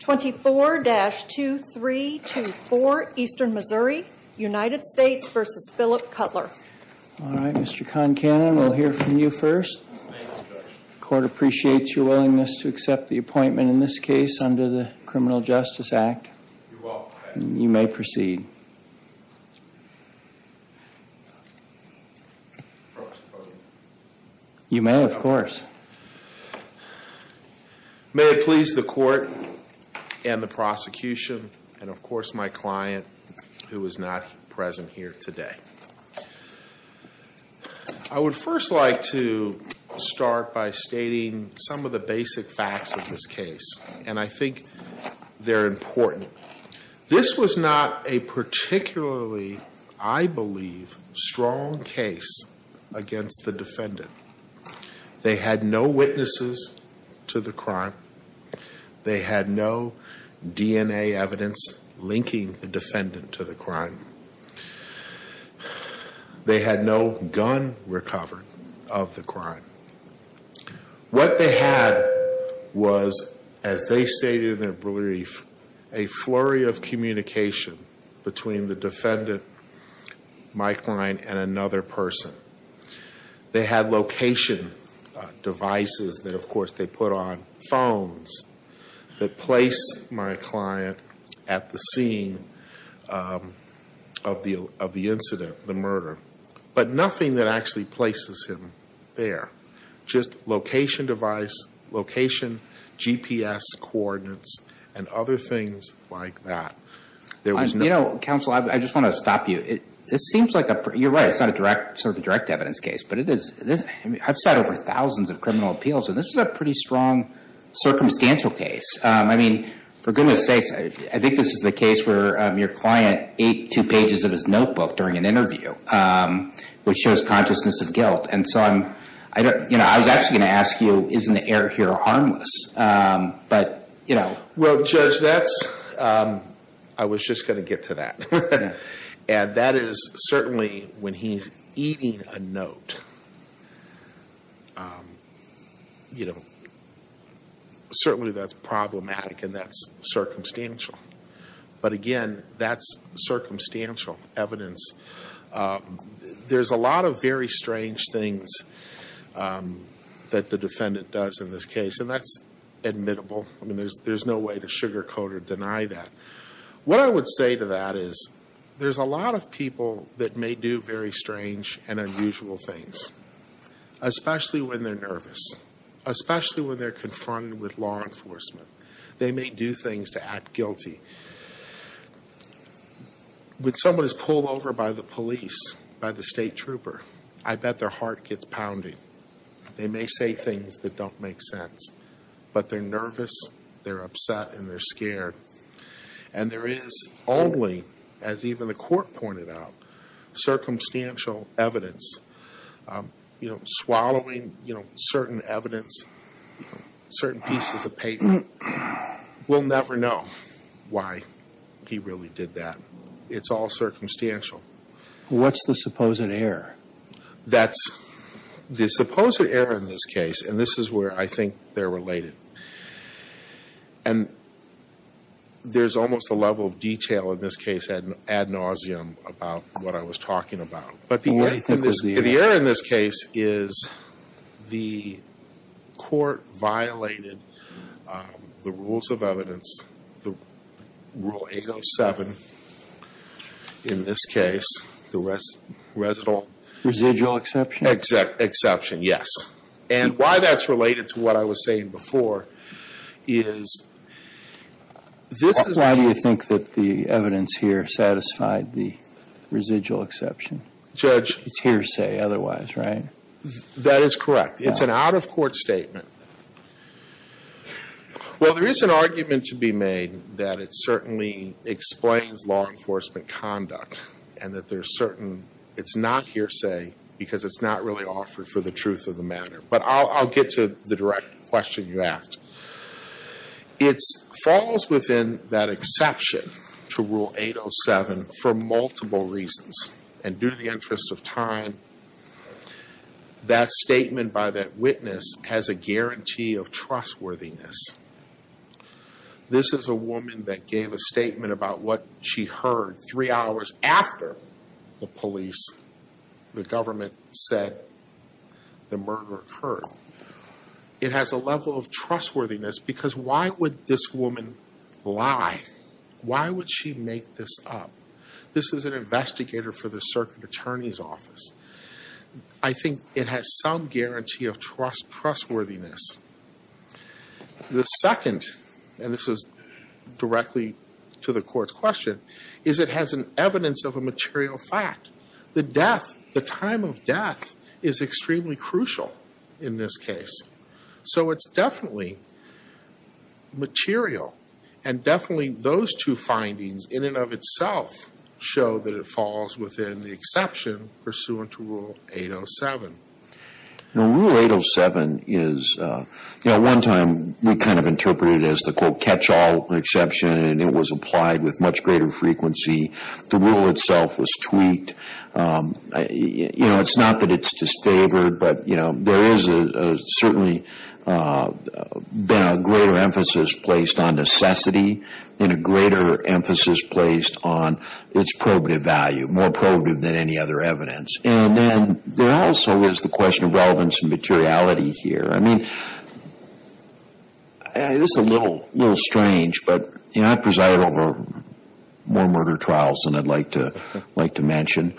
24-2324 Eastern Missouri United States v. Phillip Cutler All right, Mr. Concannon, we'll hear from you first. Court appreciates your willingness to accept the appointment in this case under the Criminal Justice Act. You may proceed. You may, of course. May it please the Court and the prosecution and, of course, my client, who is not present here today. I would first like to start by stating some of the basic facts of this case, and I think they're important. This was not a particularly, I believe, strong case against the defendant. They had no witnesses to the crime. They had no DNA evidence linking the defendant to the crime. They had no gun recovered of the crime. What they had was, as they stated in their brief, a flurry of communication between the defendant, my client, and another person. They had location devices that, of course, they put on phones that place my client at the scene of the incident, the murder. But nothing that actually places him there. Just location device, location GPS coordinates, and other things like that. There was no... You know, counsel, I just want to stop you. This seems like a... You're right. It's not a direct, sort of a direct evidence case. But it is... I've sat over thousands of criminal appeals, and this is a pretty strong circumstantial case. I mean, for goodness sakes, I think this is the case where your client ate two pages of his notebook during an interview, which shows consciousness of guilt. And so I'm... You know, I was actually going to ask you, isn't the air here harmless? But you know... Well, Judge, that's... I was just going to get to that. And that is certainly, when he's eating a note, you know, certainly that's problematic and that's circumstantial. But again, that's circumstantial evidence. There's a lot of very strange things that the defendant does in this case, and that's admittable. I mean, there's no way to sugarcoat or deny that. What I would say to that is, there's a lot of people that may do very strange and unusual things, especially when they're nervous, especially when they're confronted with law enforcement. They may do things to act guilty. When someone is pulled over by the police, by the state trooper, I bet their heart gets pounding. They may say things that don't make sense. But they're nervous, they're upset, and they're scared. And there is only, as even the court pointed out, circumstantial evidence. You know, swallowing, you know, certain evidence, certain pieces of paper, we'll never know why he really did that. It's all circumstantial. What's the supposed error? That's the supposed error in this case, and this is where I think they're related. And there's almost a level of detail in this case ad nauseum about what I was talking about. But the error in this case is the court violated the rules of evidence, the Rule 807, in this case, the residual exception, yes. And why that's related to what I was saying before is this is- Why do you think that the evidence here satisfied the residual exception? Judge- It's hearsay otherwise, right? That is correct. It's an out-of-court statement. Well, there is an argument to be made that it certainly explains law enforcement conduct, and that there's certain, it's not hearsay because it's not really offered for the truth of the matter, but I'll get to the direct question you asked. It falls within that exception to Rule 807 for multiple reasons, and due to the interest of time, that statement by that witness has a guarantee of trustworthiness. This is a woman that gave a statement about what she heard three hours after the police, the government, said the murder occurred. It has a level of trustworthiness because why would this woman lie? Why would she make this up? This is an investigator for the circuit attorney's office. I think it has some guarantee of trustworthiness. The second, and this is directly to the court's question, is it has an evidence of a material fact. The death, the time of death is extremely crucial in this case. So it's definitely material, and definitely those two findings in and of itself show that it falls within the exception pursuant to Rule 807. Rule 807 is, you know, one time we kind of interpreted it as the, quote, catch-all exception, and it was applied with much greater frequency. The rule itself was tweaked. You know, it's not that it's disfavored, but, you know, there is certainly been a greater emphasis placed on necessity and a greater emphasis placed on its probative value, more probative than any other evidence. And then there also is the question of relevance and materiality here. I mean, this is a little strange, but I preside over more murder trials than I'd like to mention.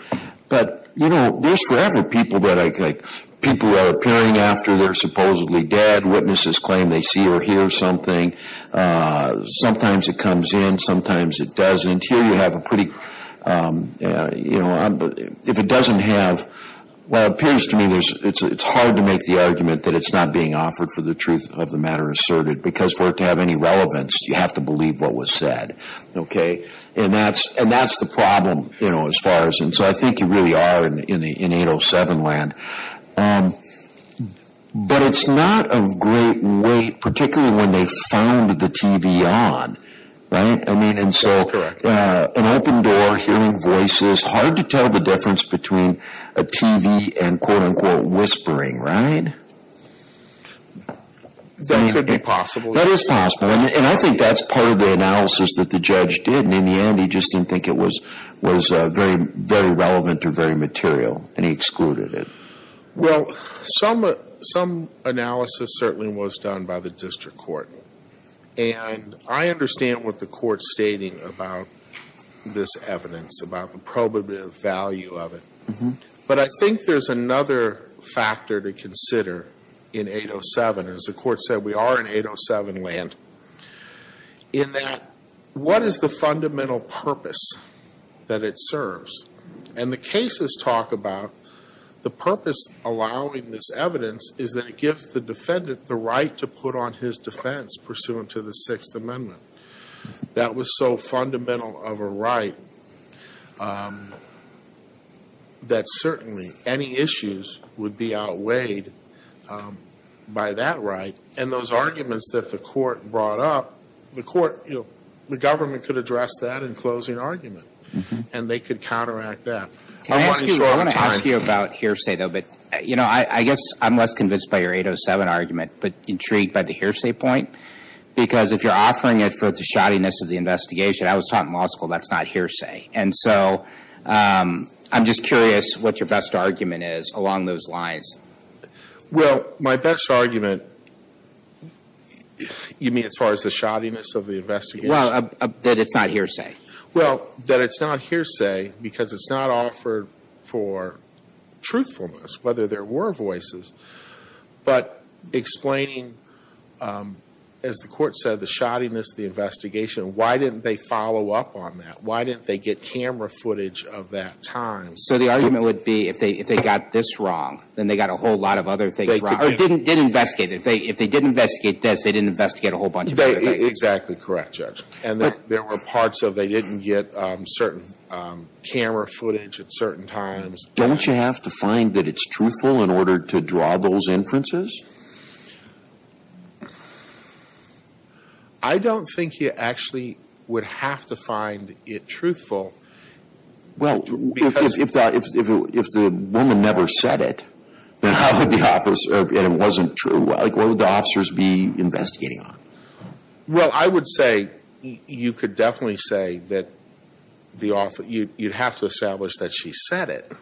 But, you know, there's forever people that I, like, people are appearing after they're supposedly dead. Witnesses claim they see or hear something. Sometimes it comes in, sometimes it doesn't. Here you have a pretty, you know, if it doesn't have, well, it appears to me it's hard to make the argument that it's not being offered for the truth of the matter asserted, because for it to have any relevance, you have to believe what was said, okay? And that's the problem, you know, as far as, and so I think you really are in 807 land. But it's not of great weight, particularly when they found the TV on, right? I mean, and so an open door, hearing voices, hard to tell the difference between a TV and quote unquote whispering, right? That could be possible. That is possible, and I think that's part of the analysis that the judge did. And in the end, he just didn't think it was very relevant or very material, and he excluded it. Well, some analysis certainly was done by the district court. And I understand what the court's stating about this evidence, about the probative value of it. But I think there's another factor to consider in 807. As the court said, we are in 807 land, in that what is the fundamental purpose that it serves? And the cases talk about the purpose allowing this evidence is that it gives the defendant the right to put on his defense pursuant to the Sixth Amendment. That was so fundamental of a right. That certainly, any issues would be outweighed by that right. And those arguments that the court brought up, the government could address that in closing argument. And they could counteract that. I want to ask you about hearsay though, but I guess I'm less convinced by your 807 argument, but intrigued by the hearsay point, because if you're offering it for the shoddiness of the investigation. I was taught in law school that's not hearsay. And so, I'm just curious what your best argument is along those lines. Well, my best argument, you mean as far as the shoddiness of the investigation? Well, that it's not hearsay. Well, that it's not hearsay because it's not offered for truthfulness, whether there were voices. But explaining, as the court said, the shoddiness of the investigation. Why didn't they follow up on that? Why didn't they get camera footage of that time? So, the argument would be if they got this wrong, then they got a whole lot of other things wrong. Or didn't investigate it. If they didn't investigate this, they didn't investigate a whole bunch of other things. Exactly correct, Judge. And there were parts of they didn't get certain camera footage at certain times. Don't you have to find that it's truthful in order to draw those inferences? I don't think you actually would have to find it truthful. Well, if the woman never said it, then how could the officer, and it wasn't true, what would the officers be investigating on? Well, I would say, you could definitely say that you'd have to establish that she said it.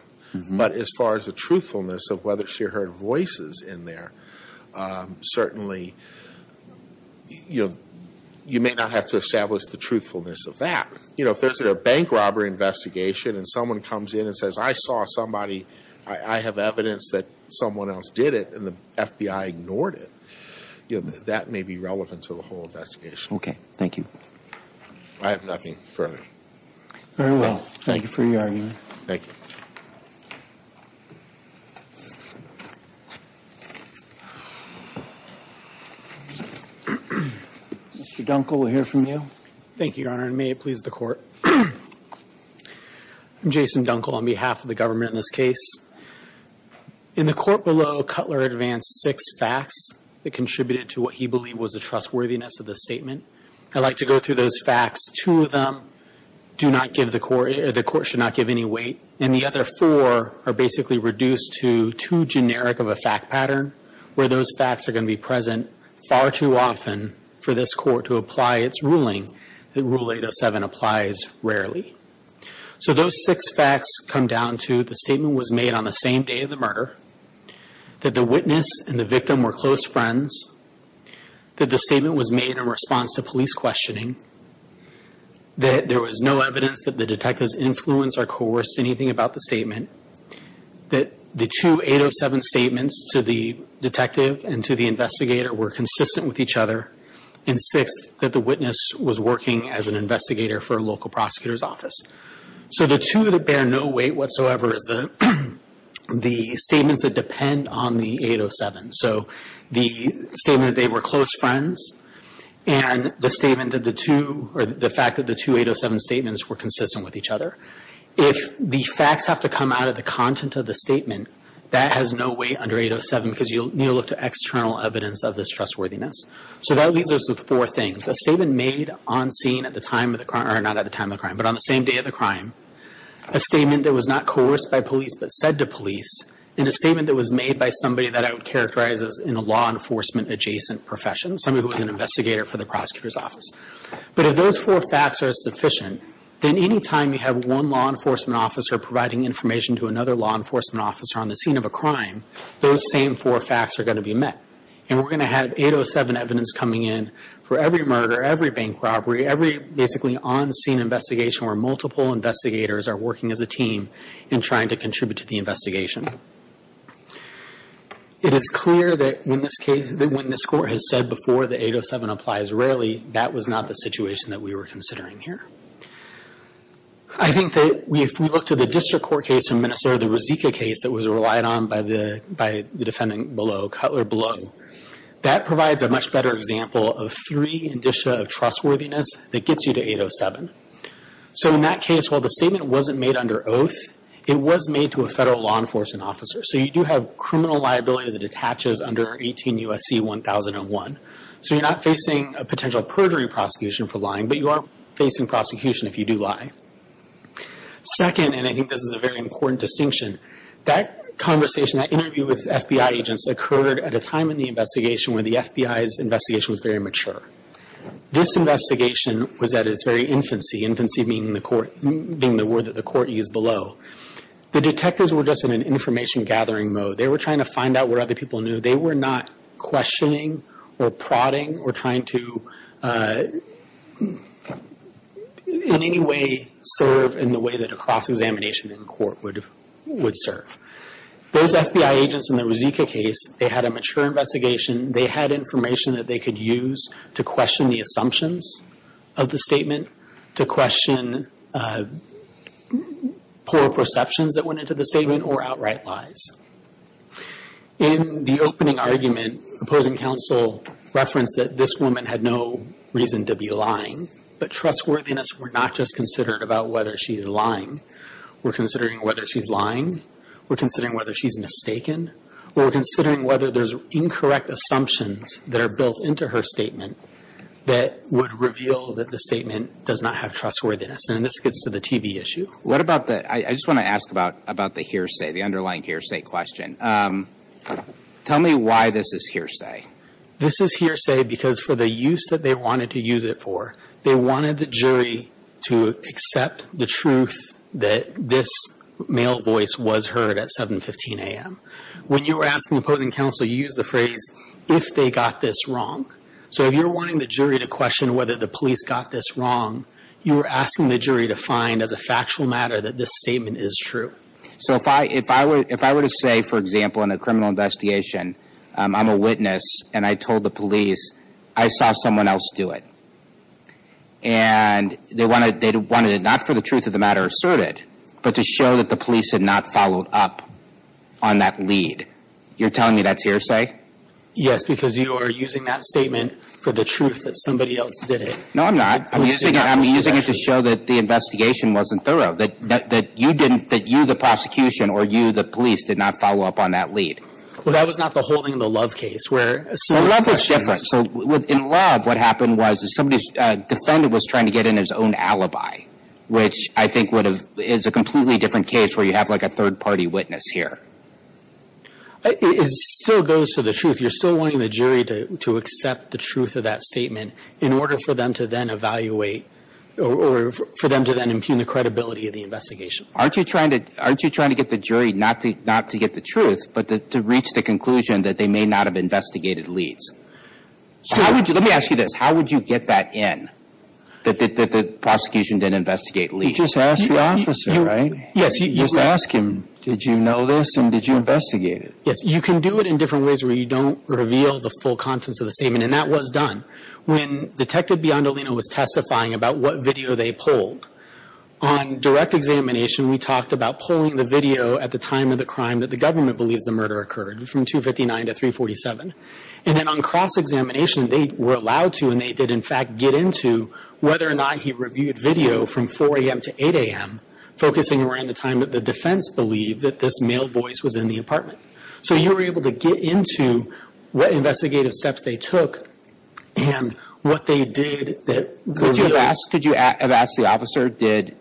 But as far as the truthfulness of whether she heard voices in there, certainly, you may not have to establish the truthfulness of that. If there's a bank robbery investigation and someone comes in and says, I saw somebody, I have evidence that someone else did it and the FBI ignored it, that may be relevant to the whole investigation. Okay, thank you. I have nothing further. Very well, thank you for your argument. Thank you. Mr. Dunkel, we'll hear from you. Thank you, Your Honor, and may it please the court. I'm Jason Dunkel on behalf of the government in this case. In the court below, Cutler advanced six facts that contributed to what he believed was the trustworthiness of the statement. I'd like to go through those facts. Two of them do not give the court, or the court should not give any weight. And the other four are basically reduced to too generic of a fact pattern, where those facts are going to be present far too often for this court to apply its ruling that Rule 807 applies rarely. So those six facts come down to the statement was made on the same day of the murder, that the witness and the victim were close friends, that the statement was made in response to police questioning, that there was no evidence that the detective's influence or coerced anything about the statement, that the two 807 statements to the detective and to the investigator were consistent with each other. And sixth, that the witness was working as an investigator for a local prosecutor's office. So the two that bear no weight whatsoever is the statements that depend on the 807. So the statement that they were close friends, and the statement that the two, or the fact that the two 807 statements were consistent with each other. If the facts have to come out of the content of the statement, that has no weight under 807 because you'll need to look to external evidence of this trustworthiness. So that leaves us with four things. A statement made on scene at the time of the crime, or not at the time of the crime, but on the same day of the crime. A statement that was not coerced by police, but said to police. And a statement that was made by somebody that I would characterize as in a law enforcement adjacent profession, somebody who was an investigator for the prosecutor's office. But if those four facts are sufficient, then any time you have one law enforcement officer providing information to another law enforcement officer on the scene of a crime, those same four facts are going to be met. And we're going to have 807 evidence coming in for every murder, every bank robbery, every basically on scene investigation where multiple investigators are working as a team and trying to contribute to the investigation. It is clear that when this court has said before the 807 applies rarely, that was not the situation that we were considering here. I think that if we look to the district court case in Minnesota, the Rizika case that was relied on by the defendant below, Cutler below. That provides a much better example of three indicia of trustworthiness that gets you to 807. So in that case, while the statement wasn't made under oath, it was made to a federal law enforcement officer. So you do have criminal liability that attaches under 18 U.S.C. 1001. So you're not facing a potential perjury prosecution for lying, but you are facing prosecution if you do lie. Second, and I think this is a very important distinction. That conversation, that interview with FBI agents occurred at a time in the investigation where the FBI's investigation was very mature. This investigation was at its very infancy. Infancy being the word that the court used below. The detectives were just in an information gathering mode. They were trying to find out what other people knew. They were not questioning or prodding or trying to in any way serve in the way that a cross-examination in court would serve. Those FBI agents in the Rizika case, they had a mature investigation. They had information that they could use to question the assumptions of the statement. To question poor perceptions that went into the statement or outright lies. In the opening argument, opposing counsel referenced that this woman had no reason to be lying. But trustworthiness were not just considered about whether she's lying. We're considering whether she's lying. We're considering whether she's mistaken. We're considering whether there's incorrect assumptions that are built into her statement that would reveal that the statement does not have trustworthiness. And this gets to the TV issue. What about the, I just want to ask about the hearsay, the underlying hearsay question. Tell me why this is hearsay. This is hearsay because for the use that they wanted to use it for, they wanted the jury to accept the truth that this male voice was heard at 7.15 a.m. When you were asking opposing counsel, you used the phrase, if they got this wrong. So if you're wanting the jury to question whether the police got this wrong, you were asking the jury to find as a factual matter that this statement is true. So if I were to say, for example, in a criminal investigation, I'm a witness and I told the police, I saw someone else do it. And they wanted it not for the truth of the matter asserted, but to show that the police had not followed up on that lead. You're telling me that's hearsay? Yes, because you are using that statement for the truth that somebody else did it. No, I'm not. I'm using it to show that the investigation wasn't thorough, that you, the prosecution, or you, the police, did not follow up on that lead. Well, that was not the whole thing in the Love case. Well, Love was different. In Love, what happened was somebody's defendant was trying to get in his own alibi, which I think is a completely different case where you have a third-party witness here. It still goes to the truth. You're still wanting the jury to accept the truth of that statement in order for them to then evaluate or for them to then impugn the credibility of the investigation. Aren't you trying to get the jury not to get the truth, but to reach the conclusion that they may not have investigated leads? Let me ask you this. How would you get that in, that the prosecution didn't investigate leads? You just ask the officer, right? Yes. You just ask him, did you know this and did you investigate it? Yes. You can do it in different ways where you don't reveal the full contents of the statement, and that was done. When Detective Biondolino was testifying about what video they pulled, on direct examination, we talked about pulling the video at the time of the crime that the government believes the murder occurred, from 259 to 347. And then on cross-examination, they were allowed to, and they did in fact get into whether or not he reviewed video from 4 a.m. to 8 a.m., focusing around the time that the defense believed that this male voice was in the apartment. So you were able to get into what investigative steps they took and what they did. Could you have asked the officer, did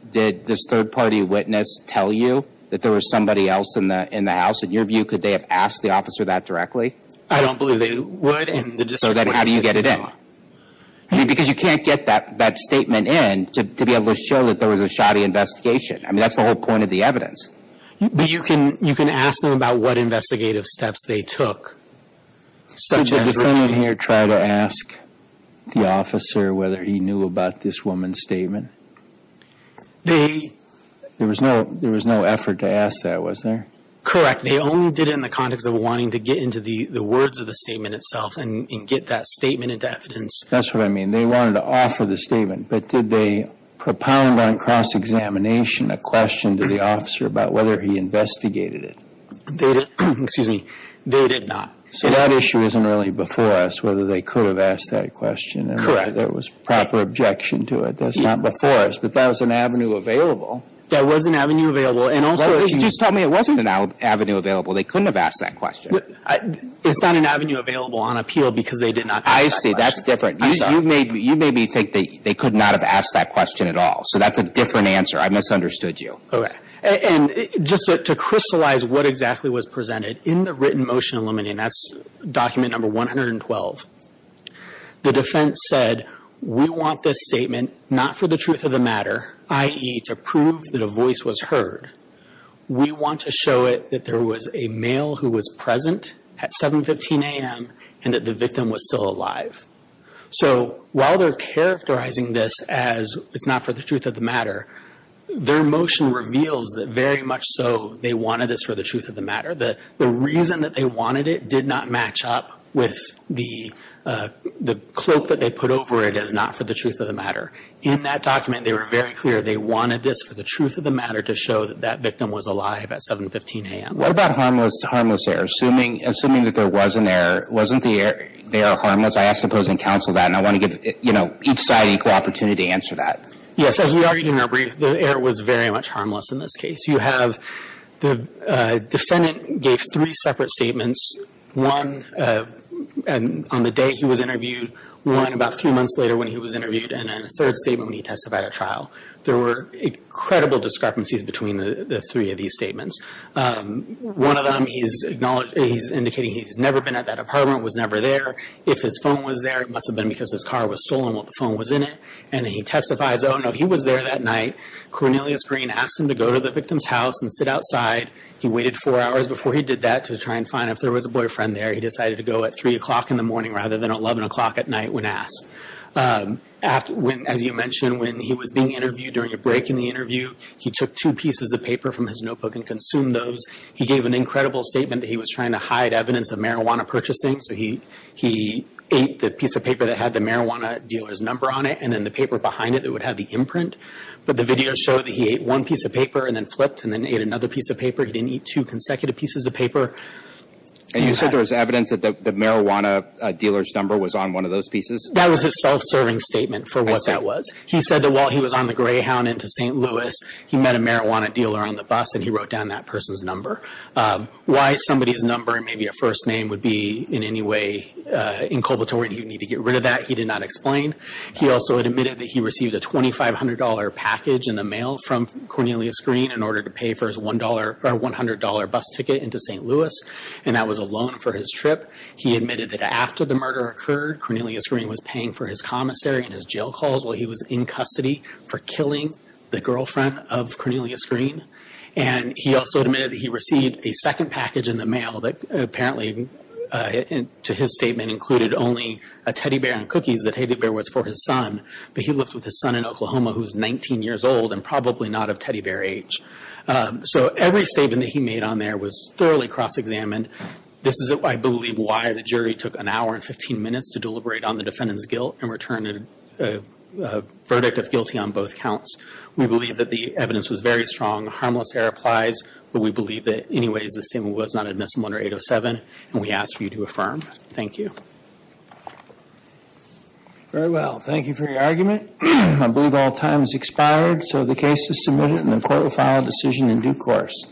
this third-party witness tell you that there was somebody else in the house? In your view, could they have asked the officer that directly? I don't believe they would. So then how do you get it in? Because you can't get that statement in to be able to show that there was a shoddy investigation. I mean, that's the whole point of the evidence. But you can ask them about what investigative steps they took. Could the defendant here try to ask the officer whether he knew about this woman's statement? There was no effort to ask that, was there? Correct. They only did it in the context of wanting to get into the words of the statement itself and get that statement into evidence. That's what I mean. They wanted to offer the statement. But did they propound on cross-examination a question to the officer about whether he investigated it? Excuse me. They did not. So that issue isn't really before us, whether they could have asked that question. Correct. There was proper objection to it. That's not before us. But that was an avenue available. That was an avenue available. And also if you just tell me it wasn't an avenue available, they couldn't have asked that question. It's not an avenue available on appeal because they did not ask that question. I see. That's different. You made me think that they could not have asked that question at all. So that's a different answer. I misunderstood you. Okay. And just to crystallize what exactly was presented, in the written motion eliminating, that's document number 112, the defense said, we want this statement not for the truth of the matter, i.e., to prove that a voice was heard. We want to show it that there was a male who was present at 7.15 a.m. and that the victim was still alive. So while they're characterizing this as it's not for the truth of the matter, their motion reveals that very much so they wanted this for the truth of the matter. The reason that they wanted it did not match up with the cloak that they put over it as not for the truth of the matter. In that document, they were very clear they wanted this for the truth of the matter to show that that victim was alive at 7.15 a.m. What about harmless error? Assuming that there was an error, wasn't the error harmless? I ask opposing counsel that, and I want to give each side equal opportunity to answer that. Yes, as we argued in our brief, the error was very much harmless in this case. You have the defendant gave three separate statements, one on the day he was interviewed, one about three months later when he was interviewed, and then a third statement when he testified at trial. There were incredible discrepancies between the three of these statements. One of them, he's indicating he's never been at that apartment, was never there. If his phone was there, it must have been because his car was stolen while the phone was in it. And then he testifies, oh, no, he was there that night. Cornelius Green asked him to go to the victim's house and sit outside. He waited four hours before he did that to try and find out if there was a boyfriend there. He decided to go at 3 o'clock in the morning rather than 11 o'clock at night when asked. As you mentioned, when he was being interviewed during a break in the interview, he took two pieces of paper from his notebook and consumed those. He gave an incredible statement that he was trying to hide evidence of marijuana purchasing. So he ate the piece of paper that had the marijuana dealer's number on it and then the paper behind it that would have the imprint. But the video showed that he ate one piece of paper and then flipped and then ate another piece of paper. He didn't eat two consecutive pieces of paper. And you said there was evidence that the marijuana dealer's number was on one of those pieces? That was his self-serving statement for what that was. He said that while he was on the Greyhound into St. Louis, he met a marijuana dealer on the bus and he wrote down that person's number. Why somebody's number and maybe a first name would be in any way inculpatory and you need to get rid of that, he did not explain. He also admitted that he received a $2,500 package in the mail from Cornelius Green in order to pay for his $100 bus ticket into St. Louis, and that was a loan for his trip. He admitted that after the murder occurred, Cornelius Green was paying for his commissary and his jail calls while he was in custody for killing the girlfriend of Cornelius Green. And he also admitted that he received a second package in the mail that apparently, to his statement, included only a teddy bear and cookies. The teddy bear was for his son. But he lived with his son in Oklahoma who was 19 years old and probably not of teddy bear age. So every statement that he made on there was thoroughly cross-examined. This is, I believe, why the jury took an hour and 15 minutes to deliberate on the defendant's guilt and return a verdict of guilty on both counts. We believe that the evidence was very strong. Harmless error applies. But we believe that, anyways, the statement was not admissible under 807. And we ask for you to affirm. Thank you. Very well. Thank you for your argument. I believe all time has expired, so the case is submitted and the court will file a decision in due course.